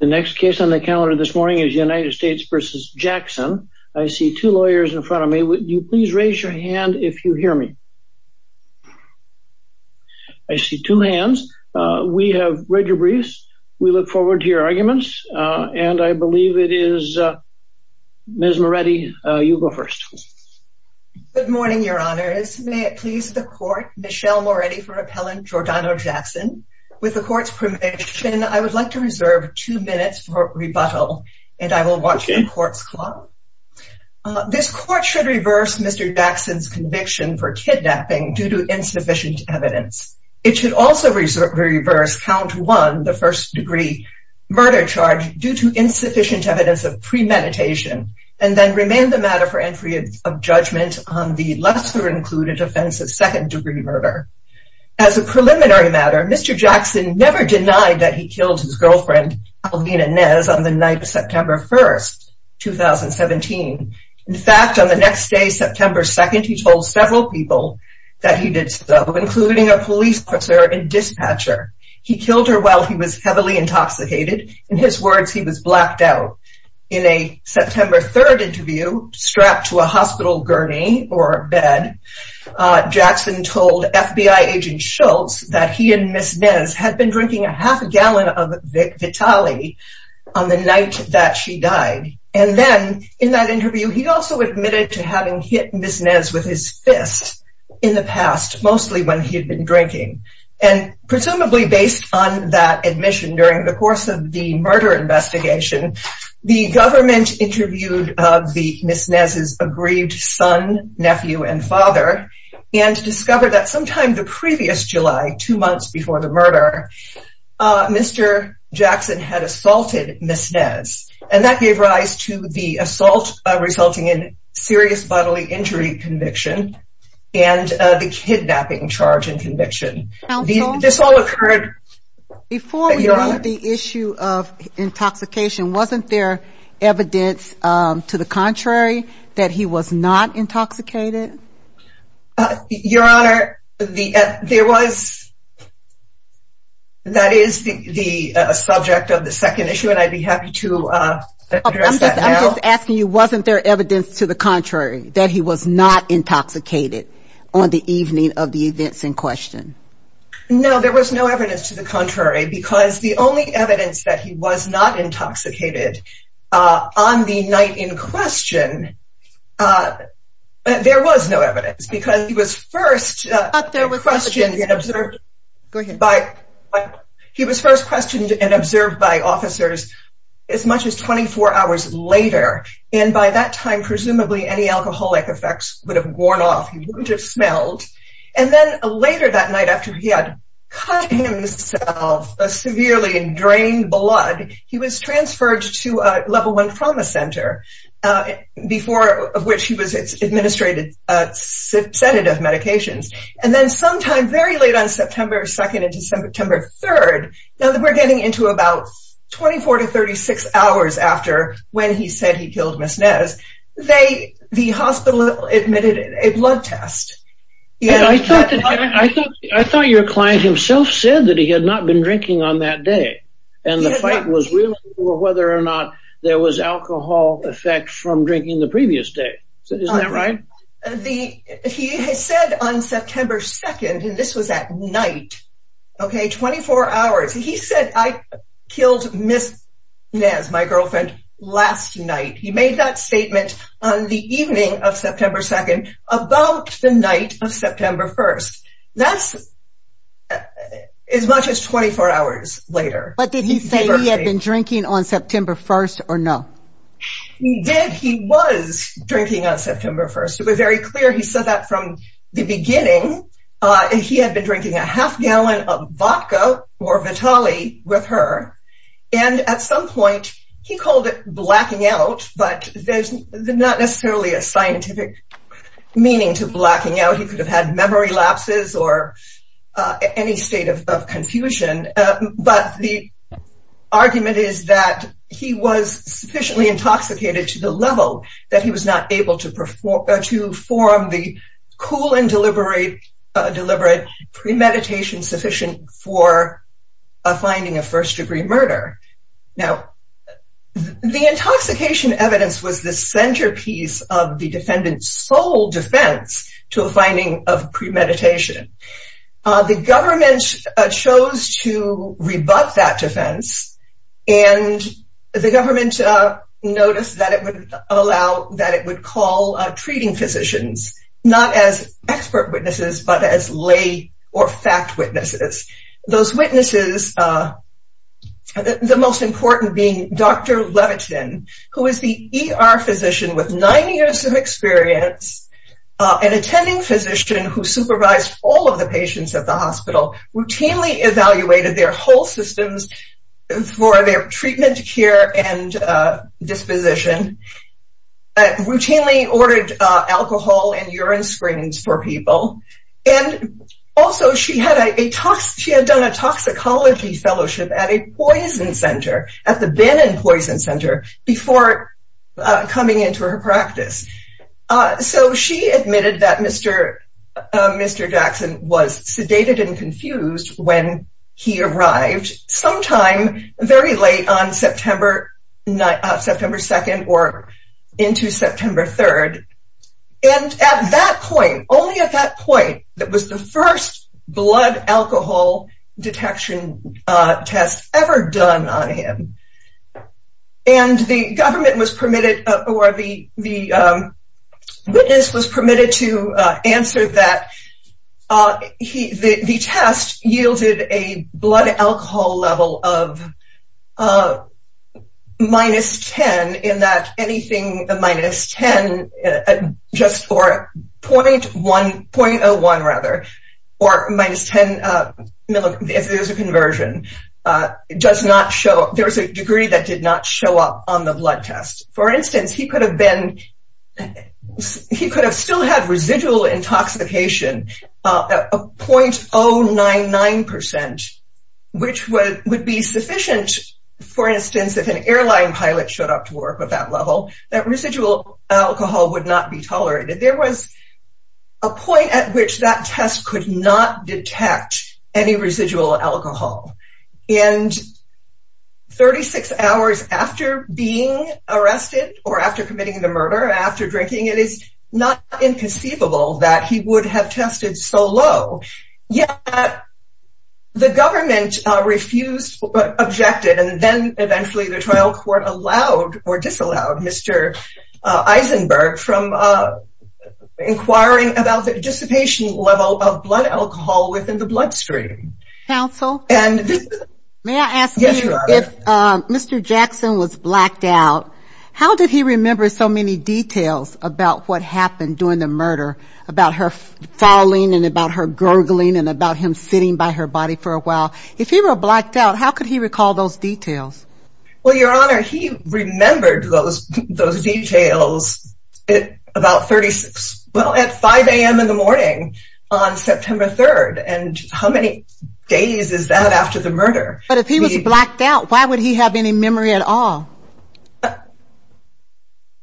The next case on the calendar this morning is United States v. Jackson. I see two lawyers in front of me. Would you please raise your hand if you hear me? I see two hands. We have read your briefs. We look forward to your arguments. And I believe it is Ms. Moretti, you go first. Good morning, Your Honors. May it please the court, Michelle Moretti for Appellant Giordano Jackson. With the court's permission, I would like to reserve two minutes for rebuttal, and I will watch the court's clock. This court should reverse Mr. Jackson's conviction for kidnapping due to insufficient evidence. It should also reverse count one, the first degree murder charge due to insufficient evidence of premeditation, and then remain the matter for entry of judgment on the lesser included offense of second degree murder. As a preliminary matter, Mr. Jackson never denied that he killed his girlfriend Alvina Nez on the night of September 1st, 2017. In fact, on the next day, September 2nd, he told several people that he did so, including a police officer and dispatcher. He killed her while he was heavily intoxicated. In his words, he was blacked out. In a September 3rd interview strapped to a hospital gurney or Ms. Nez had been drinking a half a gallon of Vitaly on the night that she died. And then in that interview, he also admitted to having hit Ms. Nez with his fist in the past, mostly when he had been drinking. And presumably based on that admission during the course of the murder investigation, the government interviewed the Ms. Nez's aggrieved son, nephew, and father, and discovered that sometime the previous July, two months before the murder, Mr. Jackson had assaulted Ms. Nez. And that gave rise to the assault resulting in serious bodily injury conviction, and the kidnapping charge and conviction. This all occurred... Before we leave the issue of intoxication, wasn't there evidence, to the contrary, that he was not intoxicated? Your Honor, there was... That is the subject of the second issue, and I'd be happy to address that now. I'm just asking you, wasn't there evidence, to the contrary, that he was not intoxicated on the evening of the events in question? No, there was no evidence to the contrary, because the only evidence that he was not intoxicated on the night in question, there was no evidence, because he was first questioned and observed... Go ahead. He was first questioned and observed by officers as much as 24 hours later. And by that time, presumably any alcoholic effects would have worn off, he wouldn't have smelled. And then later that night, after he had cut himself severely in drained blood, he was transferred to a level one trauma center, before of which he was administrated sedative medications. And then sometime very late on September 2nd into September 3rd, now that we're getting into about 24 to 36 hours after when he said he killed Ms. Nez, the hospital admitted a blood test. I thought your client himself said that he had not been drinking on that day, and the fight was really for whether or not there was alcohol effect from drinking the previous day. Isn't that right? He had said on September 2nd, and this was at night, okay, 24 hours, he said, I killed Ms. Nez, my girlfriend, last night. He made that statement on the evening of September 2nd, about the night of September 1st. That's as much as 24 hours later. But did he say he had been drinking on September 1st or no? Did, he was drinking on September 1st. It was very clear. He said that from the beginning. He had been drinking a half gallon of vodka or Vitaly with her. And at some point, he called it blacking out. But there's not necessarily a scientific meaning to blacking out. He could have had memory lapses or any state of confusion. But the argument is that he was sufficiently intoxicated to the level that he was not able to perform the cool and deliberate premeditation sufficient for a finding of first degree murder. Now, the intoxication evidence was the centerpiece of the defendant's sole defense to a finding of premeditation. The government chose to rebut that defense. And the government noticed that it would allow, that it would call treating physicians, not as expert witnesses, but as lay or fact witnesses. Those witnesses, the most important being Dr. Levitin, who is the ER physician with nine years of experience, an attending physician who supervised all of the patients at the hospital, routinely evaluated their whole systems for their treatment, care, and disposition, routinely ordered alcohol and urine screens for people. And also, she had a, she had done a toxicology fellowship at a poison center, at the Bannon Poison Center, before coming into her practice. So she admitted that Mr. Jackson was sedated and confused when he arrived sometime very late on September 2nd or into September 3rd. And at that point, only at that point, that was the first blood alcohol detection test ever done on him. And the government was permitted, or the witness was permitted to answer that the test yielded a blood alcohol level of minus 10, in that anything minus 10, just, or 0.01, rather, or minus 10, if there's a conversion, does not show, there was a degree that did not show up on the blood test. For instance, he could have been, he could have still had residual intoxication of 0.099%, which would be sufficient, for instance, if an airline pilot showed up to work at that level, that residual alcohol would not be tolerated. There was a point at which that test could not detect any residual alcohol. And 36 hours after being arrested, or after committing the murder, after drinking, it is not inconceivable that he would have tested so low. Yet, the government refused, objected, and then eventually the trial court allowed, or disallowed, Mr. Eisenberg from inquiring about the dissipation level of blood alcohol within the bloodstream. Counsel, may I ask you, if Mr. Jackson was blacked out, how did he remember so many details about what happened during the murder, about her falling, and about her gurgling, and about him sitting by her body for a while? If he were blacked out, how could he recall those details? Well, Your Honor, he remembered those details at about 36. Well, at 5 a.m. in the morning on September 3rd. And how many days is that after the murder? But if he was blacked out, why would he have any memory at all?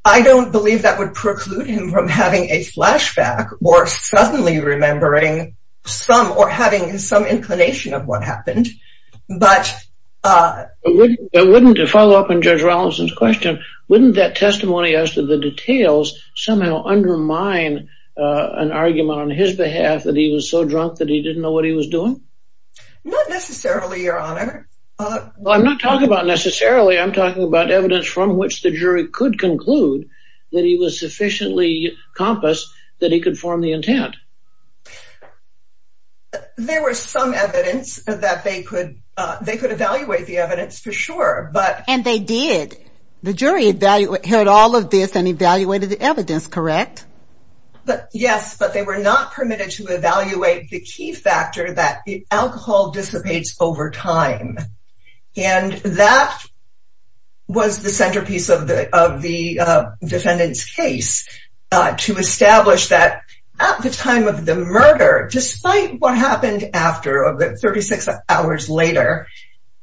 I don't believe that would preclude him from having a flashback, or suddenly remembering some, or having some inclination of what happened. But wouldn't, to follow up on Judge Rollinson's question, wouldn't that testimony as to the details somehow undermine an argument on his behalf that he was so drunk that he didn't know what he was doing? Not necessarily, Your Honor. Well, I'm not talking about necessarily. I'm talking about evidence from which the jury could conclude that he was sufficiently compassed that he could form the intent. There was some evidence that they could, they could evaluate the evidence, for sure, but... And they did. The jury heard all of this and evaluated the evidence, correct? Yes, but they were not permitted to evaluate the key factor that the alcohol dissipates over time. And that was the centerpiece of the defendant's case, to establish that at the time of the murder, despite what happened after, 36 hours later,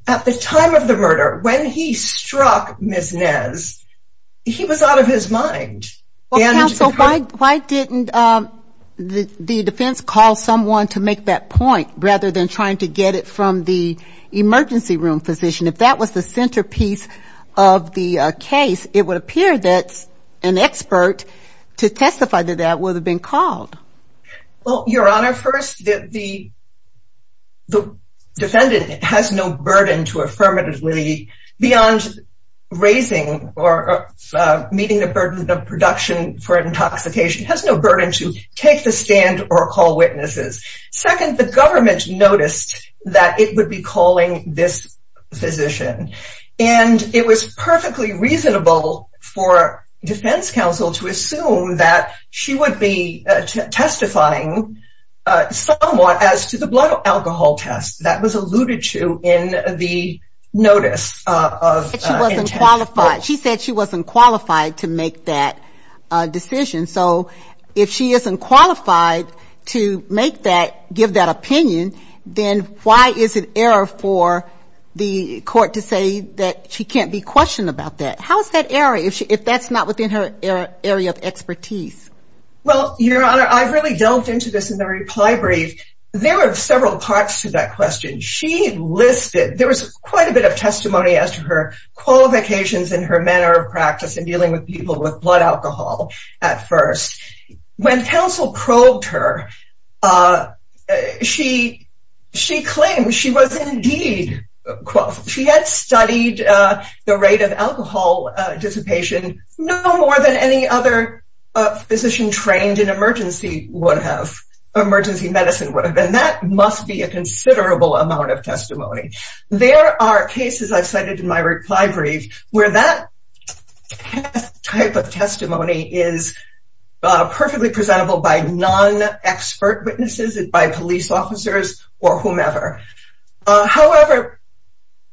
at the time of the murder, when he struck Ms. Nez, he was out of his mind. Counsel, why didn't the defense call someone to make that point, rather than trying to get it from the emergency room physician? If that was the centerpiece of the case, it would appear that an expert to testify to that would have been called. Well, Your Honor, first, the defendant has no burden to affirmatively, beyond raising or meeting the burden of production for intoxication, has no burden to take the stand or call witnesses. Second, the government noticed that it would be calling this physician. And it was perfectly reasonable for defense counsel to assume that she would be testifying somewhat as to the blood alcohol test that was alluded to in the notice. She said she wasn't qualified to make that decision. So if she isn't qualified to make that, give that opinion, then why is it error for the court to say that she can't be questioned about that? How is that error if that's not within her area of expertise? Well, Your Honor, I've really delved into this in the reply brief. There were several parts to that question. She listed, there was quite a bit of testimony as to her qualifications and her manner of practice in dealing with people with blood alcohol at first. When counsel probed her, she claimed she was indeed qualified. She had studied the rate of alcohol dissipation no more than any other physician trained in emergency medicine would have. There are cases I've cited in my reply brief where that type of testimony is perfectly presentable by non-expert witnesses, by police officers, or whomever. However,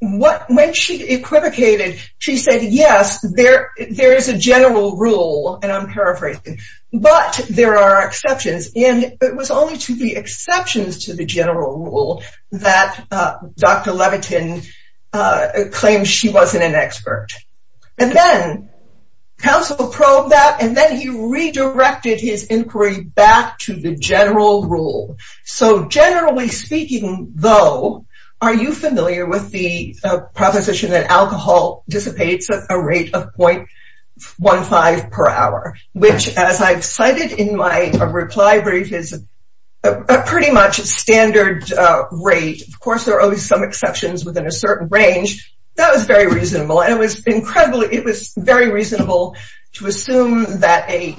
when she equivocated, she said, yes, there is a general rule, and I'm paraphrasing, but there are exceptions. It was only to the exceptions to the general rule that Dr. Levitin claimed she wasn't an expert. Then, counsel probed that, and then he redirected his inquiry back to the general rule. Generally speaking, though, are you familiar with the proposition that alcohol dissipates a rate of 0.15 per hour, which, as I've cited in my reply brief, is a pretty much standard rate. Of course, there are always some exceptions within a certain range. That was very reasonable, and it was very reasonable to assume that an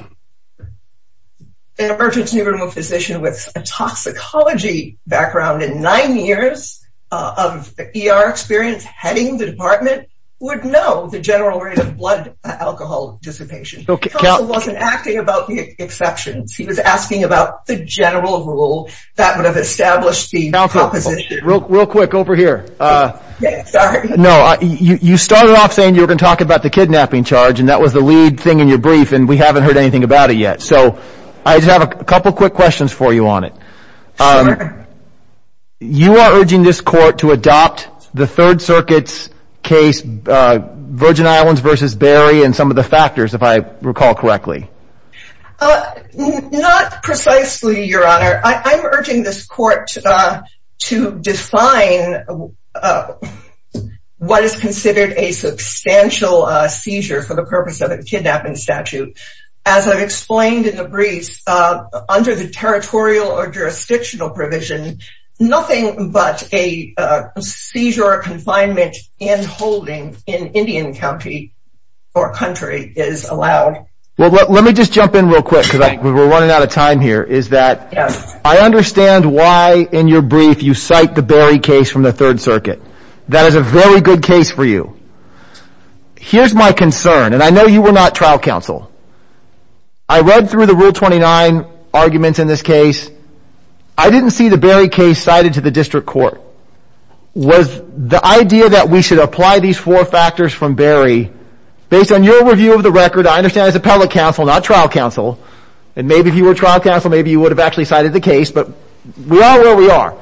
emergency room physician with a toxicology background and nine years of ER experience heading the department would know the general rate of blood alcohol dissipation. Counsel wasn't acting about the exceptions. He was asking about the general rule that would have established the proposition. Counsel, real quick, over here. No, you started off saying you were going to talk about the kidnapping charge, and that was the lead thing in your brief, and we haven't heard anything about it yet. So, I just have a couple quick questions for you on it. Sure. You are urging this court to adopt the Third Circuit's case, Virgin Islands v. Berry, and some of the factors, if I recall correctly. Not precisely, Your Honor. I'm urging this court to define what is considered a substantial seizure for the purpose of a kidnapping statute. As I've explained in the briefs, under the territorial or jurisdictional provision, nothing but a seizure or confinement and holding in Indian County or country is allowed. Well, let me just jump in real quick because we're running out of time here. I understand why in your brief you cite the Berry case from the Third Circuit. That is a very good case for you. Here's my concern, and I know you were not trial counsel. I read through the Rule 29 arguments in this case. I didn't see the Berry case cited to the district court. Was the idea that we should apply these four factors from Berry, based on your review of the record, I understand as appellate counsel, not trial counsel, and maybe if you were trial counsel, maybe you would have actually cited the case, but we are where we are.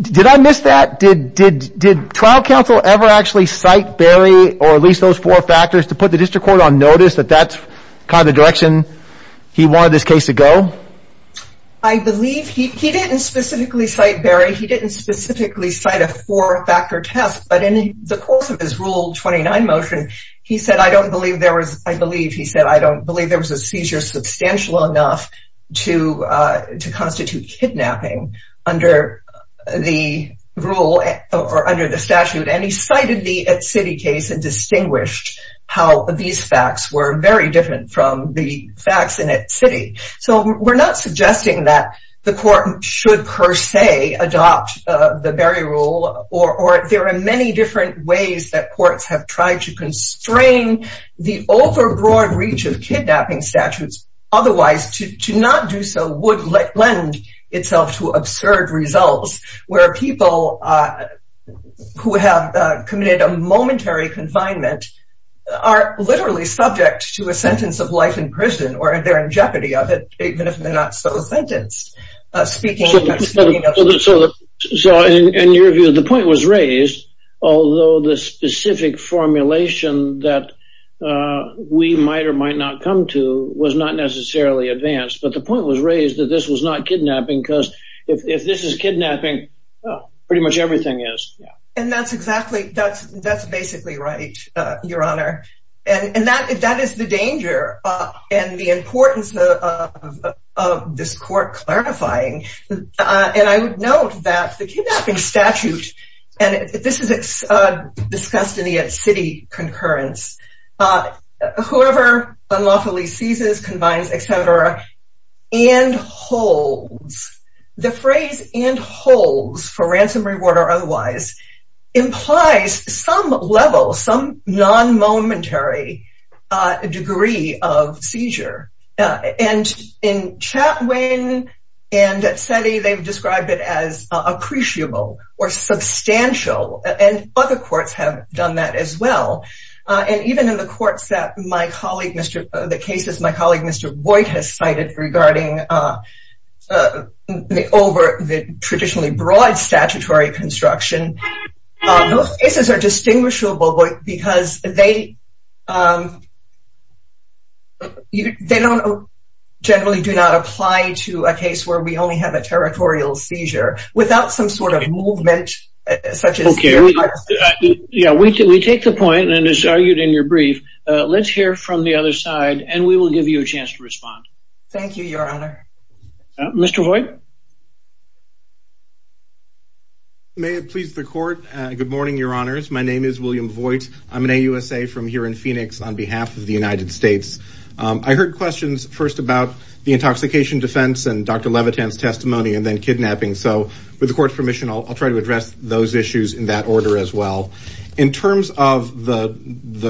Did I miss that? Did trial counsel ever actually cite Berry or at least those four factors to put the district court on notice that that's kind of the direction he wanted this case to go? I believe he didn't specifically cite Berry. He didn't specifically cite a four-factor test, but in the course of his Rule 29 motion, he said, I don't believe there was, I believe he said, I don't believe there was a seizure substantial enough to constitute kidnapping under the rule or under the statute. And he cited the city case and distinguished how these facts were very different from the facts in that city. So we're not suggesting that the court should, per se, adopt the Berry rule or there are many different ways that courts have tried to constrain the overbroad reach of kidnapping statutes, otherwise to not do so would lend itself to absurd results where people who have committed a momentary confinement are literally subject to a sentence of life in prison or they're in jeopardy of it, even if they're not so sentenced. So in your view, the point was raised, although the specific formulation that we might or might not come to was not necessarily advanced, but the point was raised that this was not kidnapping because if this is kidnapping, pretty much everything is. And that's exactly that's that's basically right, Your Honor. And that that is the danger and the importance of this court clarifying. And I would note that the kidnapping statute, and this is discussed in the city concurrence, whoever unlawfully seizes, combines, et cetera, and holds the phrase and holds for ransom reward or otherwise, implies some level, some non momentary degree of seizure. And in Chapman and SETI, they've described it as appreciable or substantial. And other courts have done that as well. And even in the courts that my colleague, Mr. the cases my colleague, Mr. Boyd has cited regarding the over the traditionally broad statutory construction, those cases are distinguishable because they they don't generally do not apply to a case where we only have a territorial seizure without some sort of movement, such as. Okay, yeah, we do. We take the point and as argued in your brief, let's hear from the other side and we will give you a chance to respond. Thank you, Your Honor. Mr. Boyd. May it please the court. Good morning, Your Honors. My name is William Boyd. I'm an AUSA from here in Phoenix on behalf of the United States. I heard questions first about the intoxication defense and Dr. Levitin's testimony and then kidnapping. So with the court's permission, I'll try to address those issues in that order as well. In terms of the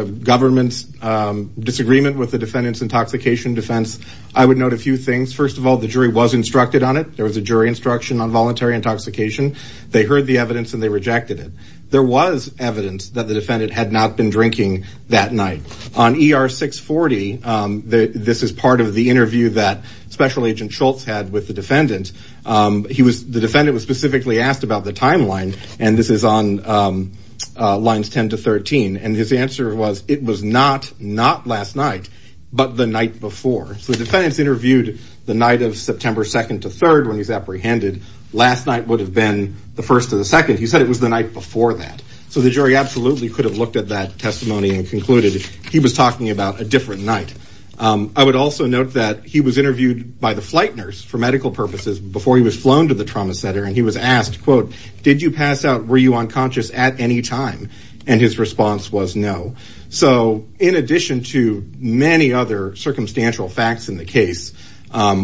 government's disagreement with the defendant's intoxication defense, I would note a few things. First of all, the jury was instructed on it. There was a jury instruction on voluntary intoxication. They heard the evidence and they rejected it. There was evidence that the defendant had not been drinking that night. On ER 640, this is part of the interview that Special Agent Schultz had with the defendant. The defendant was specifically asked about the timeline. And this is on lines 10 to 13. And his answer was, it was not, not last night, but the night before. So the defendant's interviewed the night of September 2nd to 3rd when he's apprehended. Last night would have been the 1st to the 2nd. He said it was the night before that. So the jury absolutely could have looked at that testimony and concluded he was talking about a different night. I would also note that he was interviewed by the flight nurse for medical purposes before he was flown to the trauma center. He was asked, quote, did you pass out? Were you unconscious at any time? And his response was no. So in addition to many other circumstantial facts in the case,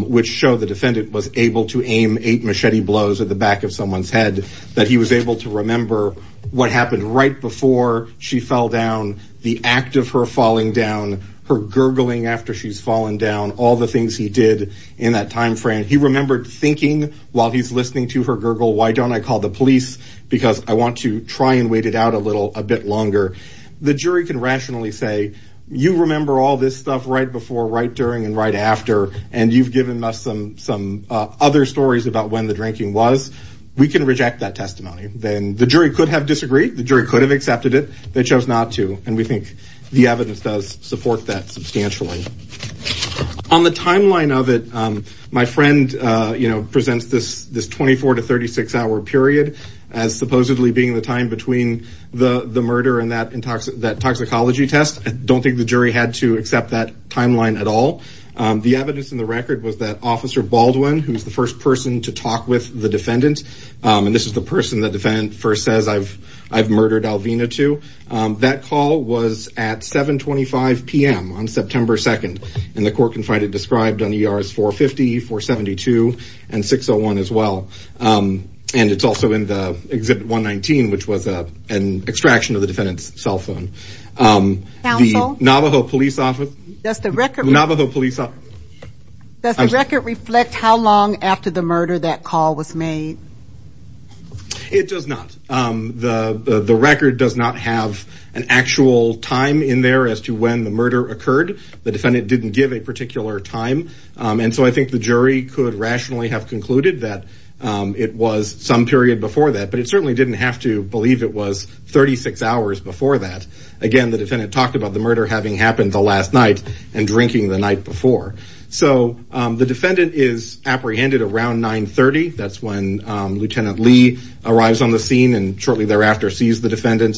which show the defendant was able to aim eight machete blows at the back of someone's head, that he was able to remember what happened right before she fell down, the act of her falling down, her gurgling after she's fallen down, all the things he did in that time frame. He remembered thinking while he's listening to her gurgle, why don't I call the police? Because I want to try and wait it out a little, a bit longer. The jury can rationally say, you remember all this stuff right before, right during, and right after. And you've given us some other stories about when the drinking was. We can reject that testimony. Then the jury could have disagreed. The jury could have accepted it. They chose not to. And we think the evidence does support that substantially. On the timeline of it, my friend presents this 24 to 36 hour period as supposedly being the time between the murder and that toxicology test. I don't think the jury had to accept that timeline at all. The evidence in the record was that Officer Baldwin, who's the first person to talk with the defendant, and this is the person the defendant first says I've murdered Alvina That call was at 725 p.m. on September 2nd. And the court confided described on ERs 450, 472, and 601 as well. And it's also in the Exhibit 119, which was an extraction of the defendant's cell phone. Counsel? Navajo Police Office. Does the record reflect how long after the murder that call was made? It does not. The record does not have an actual time in there as to when the murder occurred. The defendant didn't give a particular time. And so I think the jury could rationally have concluded that it was some period before that. But it certainly didn't have to believe it was 36 hours before that. Again, the defendant talked about the murder having happened the last night and drinking the night before. So the defendant is apprehended around 930. That's when Lieutenant Lee arrives on the scene and shortly thereafter sees the defendant.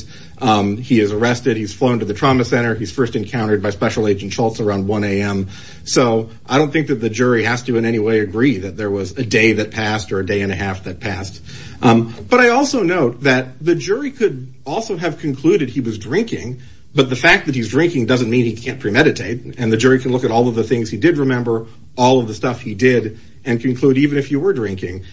He is arrested. He's flown to the trauma center. He's first encountered by Special Agent Schultz around 1 a.m. So I don't think that the jury has to in any way agree that there was a day that passed or a day and a half that passed. But I also note that the jury could also have concluded he was drinking. But the fact that he's drinking doesn't mean he can't premeditate. And the jury can look at all of the things he did remember, all of the stuff he did, and conclude even if you were drinking,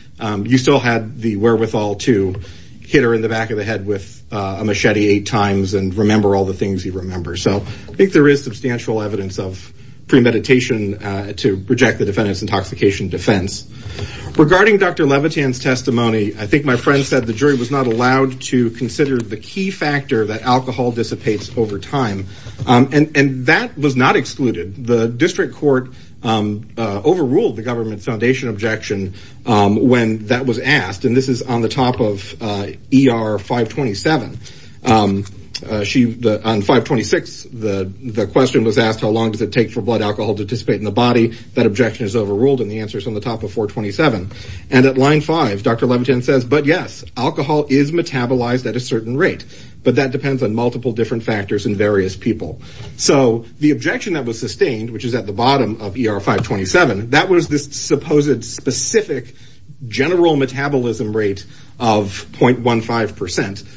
you still had the wherewithal to hit her in the back of the head with a machete eight times and remember all the things you remember. So I think there is substantial evidence of premeditation to reject the defendant's intoxication defense. Regarding Dr. Levitan's testimony, I think my friend said the jury was not allowed to consider the key factor that alcohol dissipates over time. And that was not excluded. The district court overruled the Government Foundation objection when that was asked. And this is on the top of ER 527. On 526, the question was asked, how long does it take for blood alcohol to dissipate in the body? That objection is overruled. And the answer is on the top of 427. And at line 5, Dr. Levitan says, but yes, alcohol is metabolized at a certain rate. But that depends on multiple different factors in various people. So the objection that was sustained, which is at the bottom of ER 527, that was this supposed specific general metabolism rate of 0.15%.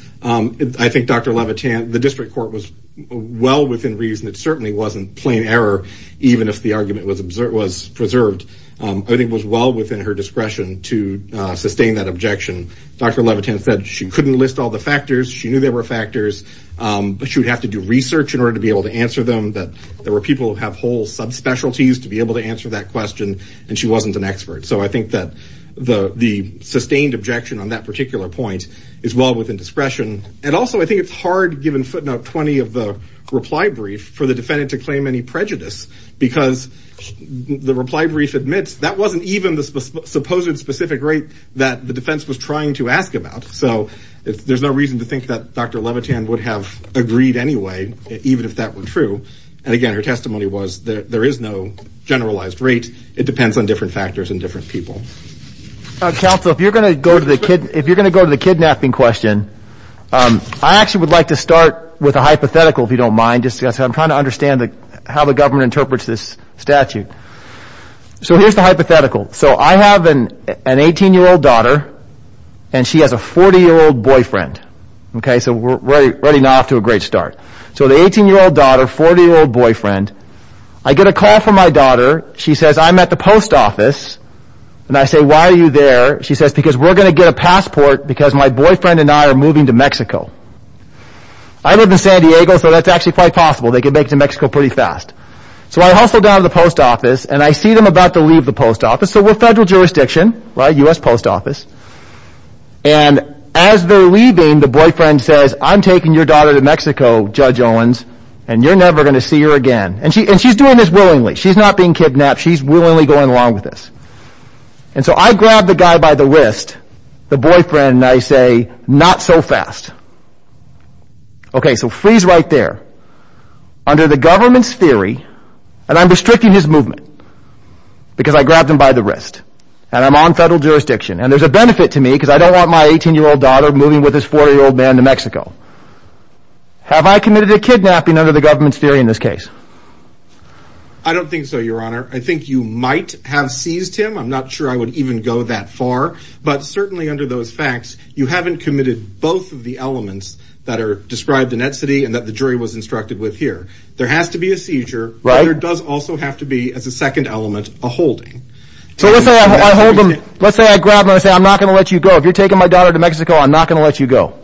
I think Dr. Levitan, the district court was well within reason. It certainly wasn't plain error, even if the argument was preserved. I think it was well within her discretion to sustain that objection. Dr. Levitan said she couldn't list all the factors. She knew there were factors. But she would have to do research in order to be able to answer them, that there were people who have whole subspecialties to be able to answer that question. And she wasn't an expert. So I think that the sustained objection on that particular point is well within discretion. And also, I think it's hard, given footnote 20 of the reply brief, for the defendant to claim any prejudice. Because the reply brief admits that wasn't even the supposed specific rate that the defense was trying to ask about. So there's no reason to think that Dr. Levitan would have agreed anyway, even if that were true. And again, her testimony was that there is no generalized rate. It depends on different factors and different people. Counsel, if you're going to go to the kidnapping question, I actually would like to start with a hypothetical, if you don't mind. Just because I'm trying to understand how the government interprets this statute. So here's the hypothetical. So I have an 18-year-old daughter, and she has a 40-year-old boyfriend. So we're running off to a great start. So the 18-year-old daughter, 40-year-old boyfriend. I get a call from my daughter. She says, I'm at the post office. And I say, why are you there? She says, because we're going to get a passport because my boyfriend and I are moving to Mexico. I live in San Diego, so that's actually quite possible. They can make it to Mexico pretty fast. We're federal jurisdiction, U.S. Post Office. And as they're leaving, the boyfriend says, I'm taking your daughter to Mexico, Judge Owens, and you're never going to see her again. And she's doing this willingly. She's not being kidnapped. She's willingly going along with this. So I grab the guy by the wrist, the boyfriend, and I say, not so fast. Okay, so freeze right there. Under the government's theory, and I'm restricting his movement, because I grabbed him by the wrist, and I'm on federal jurisdiction. And there's a benefit to me because I don't want my 18-year-old daughter moving with this 40-year-old man to Mexico. Have I committed a kidnapping under the government's theory in this case? I don't think so, Your Honor. I think you might have seized him. I'm not sure I would even go that far. But certainly under those facts, you haven't committed both of the elements that are described inensity and that the jury was instructed with here. There has to be a seizure. But there does also have to be, as a second element, a holding. So let's say I hold him. Let's say I grab him and I say, I'm not going to let you go. If you're taking my daughter to Mexico, I'm not going to let you go.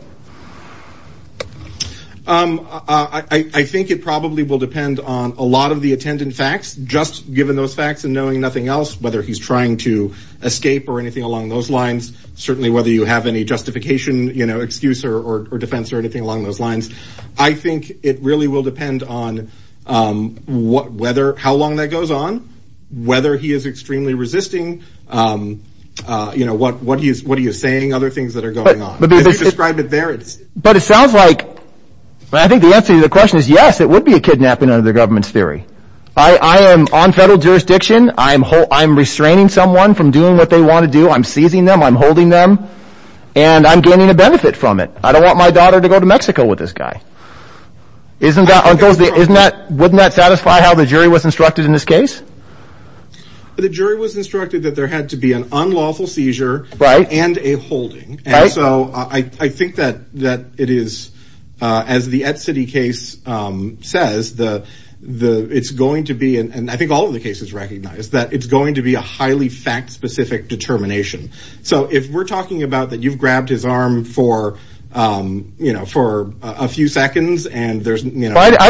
I think it probably will depend on a lot of the attendant facts, just given those facts and knowing nothing else, whether he's trying to escape or anything along those lines. Certainly, whether you have any justification, excuse or defense or anything along those lines, it's going to depend on how long that goes on, whether he is extremely resisting, what are you saying, other things that are going on. But if you describe it there, it's... But it sounds like... I think the answer to the question is yes, it would be a kidnapping under the government's theory. I am on federal jurisdiction. I'm restraining someone from doing what they want to do. I'm seizing them. I'm holding them. And I'm gaining a benefit from it. I don't want my daughter to go to Mexico with this guy. Isn't that... Wouldn't that satisfy how the jury was instructed in this case? The jury was instructed that there had to be an unlawful seizure and a holding. And so I think that it is, as the Et City case says, it's going to be... And I think all of the cases recognize that it's going to be a highly fact-specific determination. So if we're talking about that, you've grabbed his arm for a few seconds and there's... I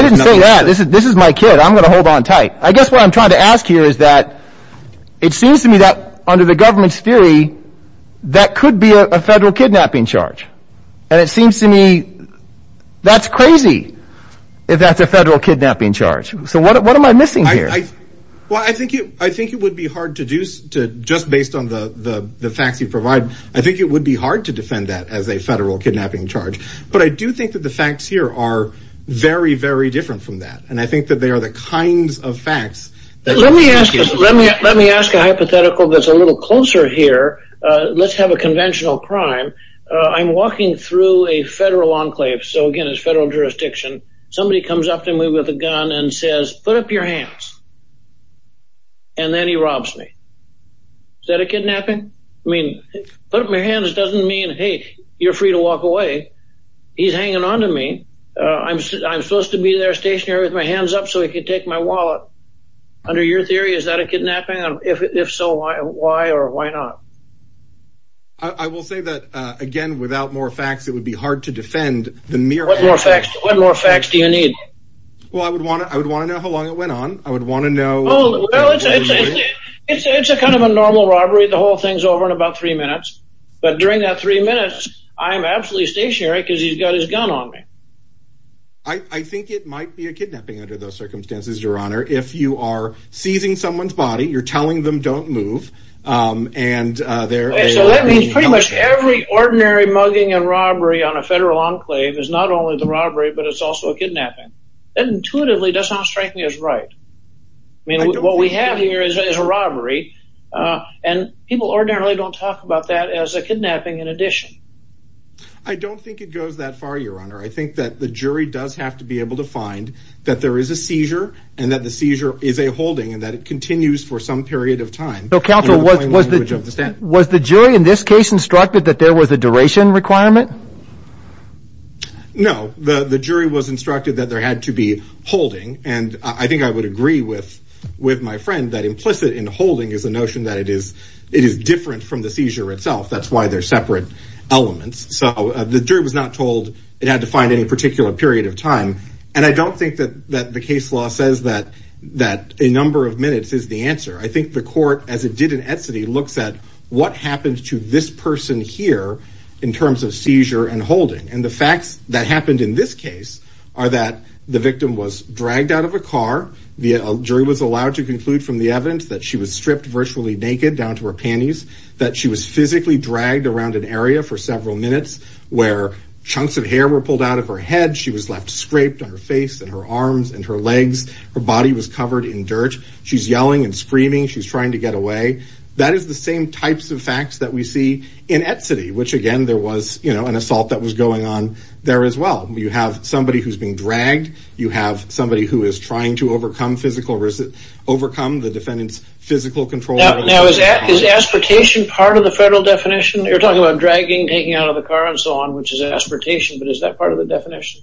didn't say that. This is my kid. I'm going to hold on tight. I guess what I'm trying to ask here is that it seems to me that under the government's theory, that could be a federal kidnapping charge. And it seems to me that's crazy if that's a federal kidnapping charge. So what am I missing here? Well, I think it would be hard to do just based on the facts you provide. I think it would be hard to defend that as a federal kidnapping charge. But I do think that the facts here are very, very different from that. And I think that they are the kinds of facts that... Let me ask a hypothetical that's a little closer here. Let's have a conventional crime. I'm walking through a federal enclave. So again, it's federal jurisdiction. Somebody comes up to me with a gun and says, put up your hands. And then he robs me. Is that a kidnapping? I mean, put up my hands doesn't mean, hey, you're free to walk away. He's hanging on to me. I'm supposed to be there stationary with my hands up so he could take my wallet. Under your theory, is that a kidnapping? If so, why or why not? I will say that, again, without more facts, it would be hard to defend the mere... What more facts? What more facts do you need? Well, I would want to know how long it went on. I would want to know... It's a kind of a normal robbery. The whole thing's over in about three minutes. But during that three minutes, I'm absolutely stationary because he's got his gun on me. I think it might be a kidnapping under those circumstances, Your Honor. If you are seizing someone's body, you're telling them don't move and they're... So that means pretty much every ordinary mugging and robbery on a federal enclave is not only the robbery, but it's also a kidnapping. That intuitively does not strike me as right. I mean, what we have here is a robbery. And people ordinarily don't talk about that as a kidnapping in addition. I don't think it goes that far, Your Honor. I think that the jury does have to be able to find that there is a seizure and that the seizure is a holding and that it continues for some period of time. So, counsel, was the jury in this case instructed that there was a duration requirement? No, the jury was instructed that there had to be holding. And I think I would agree with my friend that implicit in holding is a notion that it is different from the seizure itself. That's why they're separate elements. So the jury was not told it had to find any particular period of time. And I don't think that the case law says that a number of minutes is the answer. I think the court, as it did in Etsody, looks at what happens to this person here in terms of seizure and holding. And the facts that happened in this case are that the victim was dragged out of a car. The jury was allowed to conclude from the evidence that she was stripped virtually naked down to her panties, that she was physically dragged around an area for several minutes where chunks of hair were pulled out of her head. She was left scraped on her face and her arms and her legs. Her body was covered in dirt. She's yelling and screaming. She's trying to get away. That is the same types of facts that we see in Etsody, which, again, there was an assault that was going on there as well. You have somebody who's been dragged. You have somebody who is trying to overcome physical risk, overcome the defendant's physical control. Now, is aspiration part of the federal definition? You're talking about dragging, taking out of the car and so on, which is aspiration. But is that part of the definition?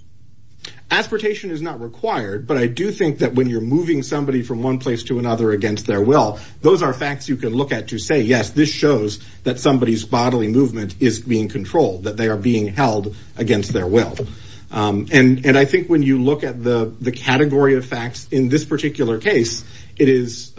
Aspiration is not required. But I do think that when you're moving somebody from one place to another against their will, those are facts you can look at to say, yes, this shows that somebody's bodily movement is being controlled, that they are being held against their will. And I think when you look at the category of facts in this particular case, it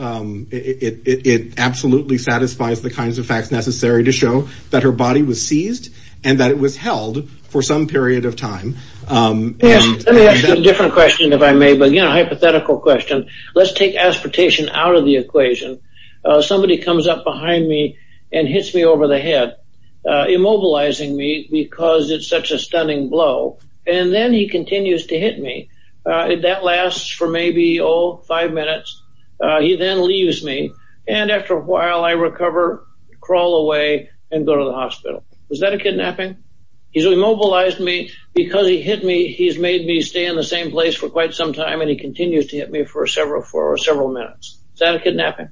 absolutely satisfies the kinds of facts necessary to show that her body was seized and that it was held for some period of time. Yes. Let me ask you a different question, if I may. But again, a hypothetical question. Let's take aspiration out of the equation. Somebody comes up behind me and hits me over the head, immobilizing me because it's such a stunning blow. And then he continues to hit me. That lasts for maybe, oh, five minutes. He then leaves me. And after a while, I recover, crawl away and go to the hospital. Is that a kidnapping? He's immobilized me because he hit me. He's made me stay in the same place for quite some time. And he continues to hit me for several minutes. Is that a kidnapping?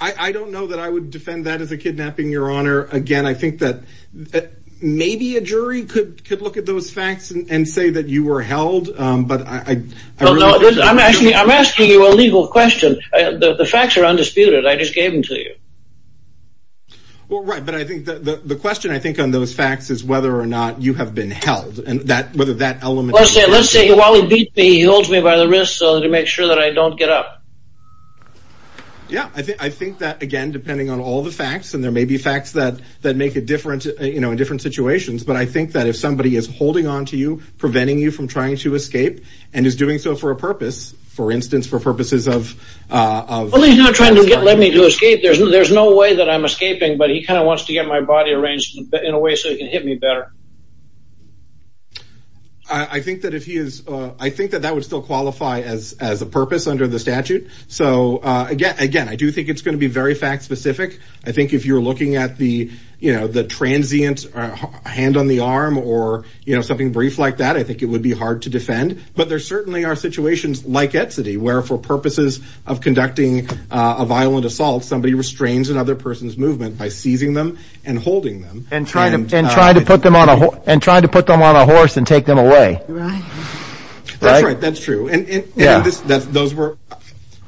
I don't know that I would defend that as a kidnapping, Your Honor. Again, I think that maybe a jury could look at those facts and say that you were held. But I'm asking you a legal question. The facts are undisputed. I just gave them to you. Well, right. But I think the question, I think, on those facts is whether or not you have been held and whether that element. Let's say while he beat me, he holds me by the wrist to make sure that I don't get up. Yeah, I think that, again, depending on all the facts, and there may be facts that that make it different, you know, in different situations. But I think that if somebody is holding on to you, preventing you from trying to escape and is doing so for a purpose, for instance, for purposes of. Well, he's not trying to get me to escape. There's no way that I'm escaping. But he kind of wants to get my body arranged in a way so he can hit me better. I think that if he is, I think that that would still qualify as as a purpose under the statute. So, again, again, I do think it's going to be very fact specific. I think if you're looking at the, you know, the transient hand on the arm or, you know, something brief like that, I think it would be hard to defend. But there certainly are situations like Etsy, where for purposes of conducting a violent assault, somebody restrains another person's movement by seizing them and holding them and trying to and try to put them on a leash. And trying to put them on a horse and take them away. That's right. That's true. And those were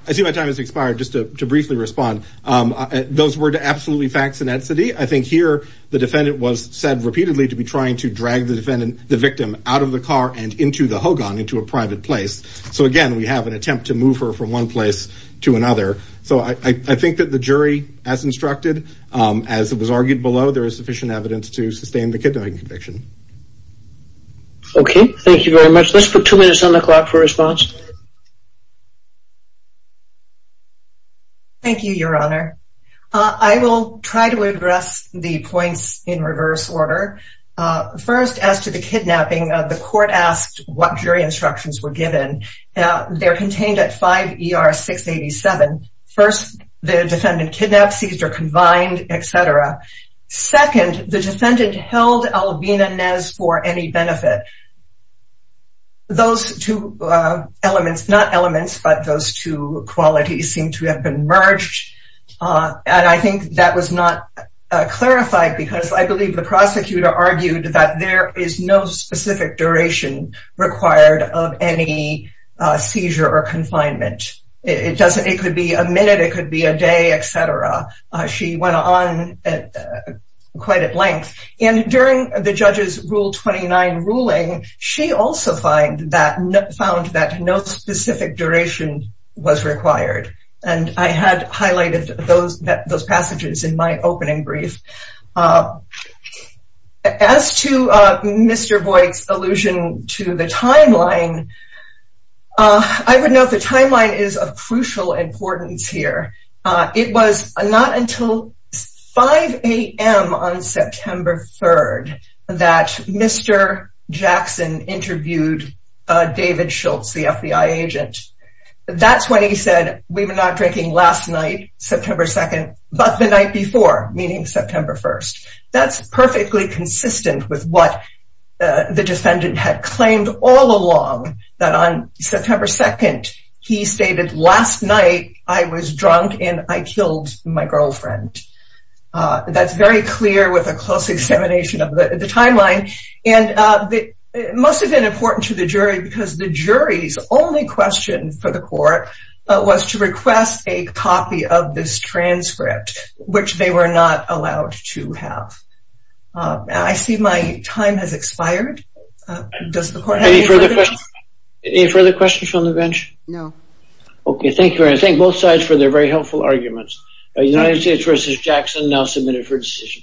I see my time has expired. Just to briefly respond. Those were absolutely facts in that city. I think here the defendant was said repeatedly to be trying to drag the defendant, the victim out of the car and into the Hogan, into a private place. So, again, we have an attempt to move her from one place to another. So I think that the jury, as instructed, as it was argued below, there is sufficient evidence to sustain the kidnapping conviction. Okay. Thank you very much. Let's put two minutes on the clock for response. Thank you, Your Honor. I will try to address the points in reverse order. First, as to the kidnapping, the court asked what jury instructions were given. They're contained at 5 ER 687. First, the defendant kidnapped, seized or confined, etc. Second, the defendant held Albina Nez for any benefit. Those two elements, not elements, but those two qualities seem to have been merged. And I think that was not clarified because I believe the prosecutor argued that there is no specific duration required of any seizure or confinement. It could be a minute. It could be a day, etc. She went on quite at length. And during the judge's Rule 29 ruling, she also found that no specific duration was required. And I had highlighted those passages in my opening brief. As to Mr. Boyd's allusion to the timeline, I would note the timeline is of crucial importance here. It was not until 5 a.m. on September 3rd that Mr. Jackson interviewed David Schultz, the FBI agent. That's when he said, we were not drinking last night, September 2nd, but the night before, meaning September 1st. That's perfectly consistent with what the defendant had claimed all along that on September 2nd, he stated, last night, I was drunk and I killed my girlfriend. That's very clear with a close examination of the timeline. And it must have been important to the jury because the jury's only question for the court was to request a copy of this transcript, which they were not allowed to have. I see my time has expired. Does the court have any further questions? Any further questions from the bench? No. Okay. Thank you very much. Thank both sides for their very helpful arguments. United States v. Jackson now submitted for decision.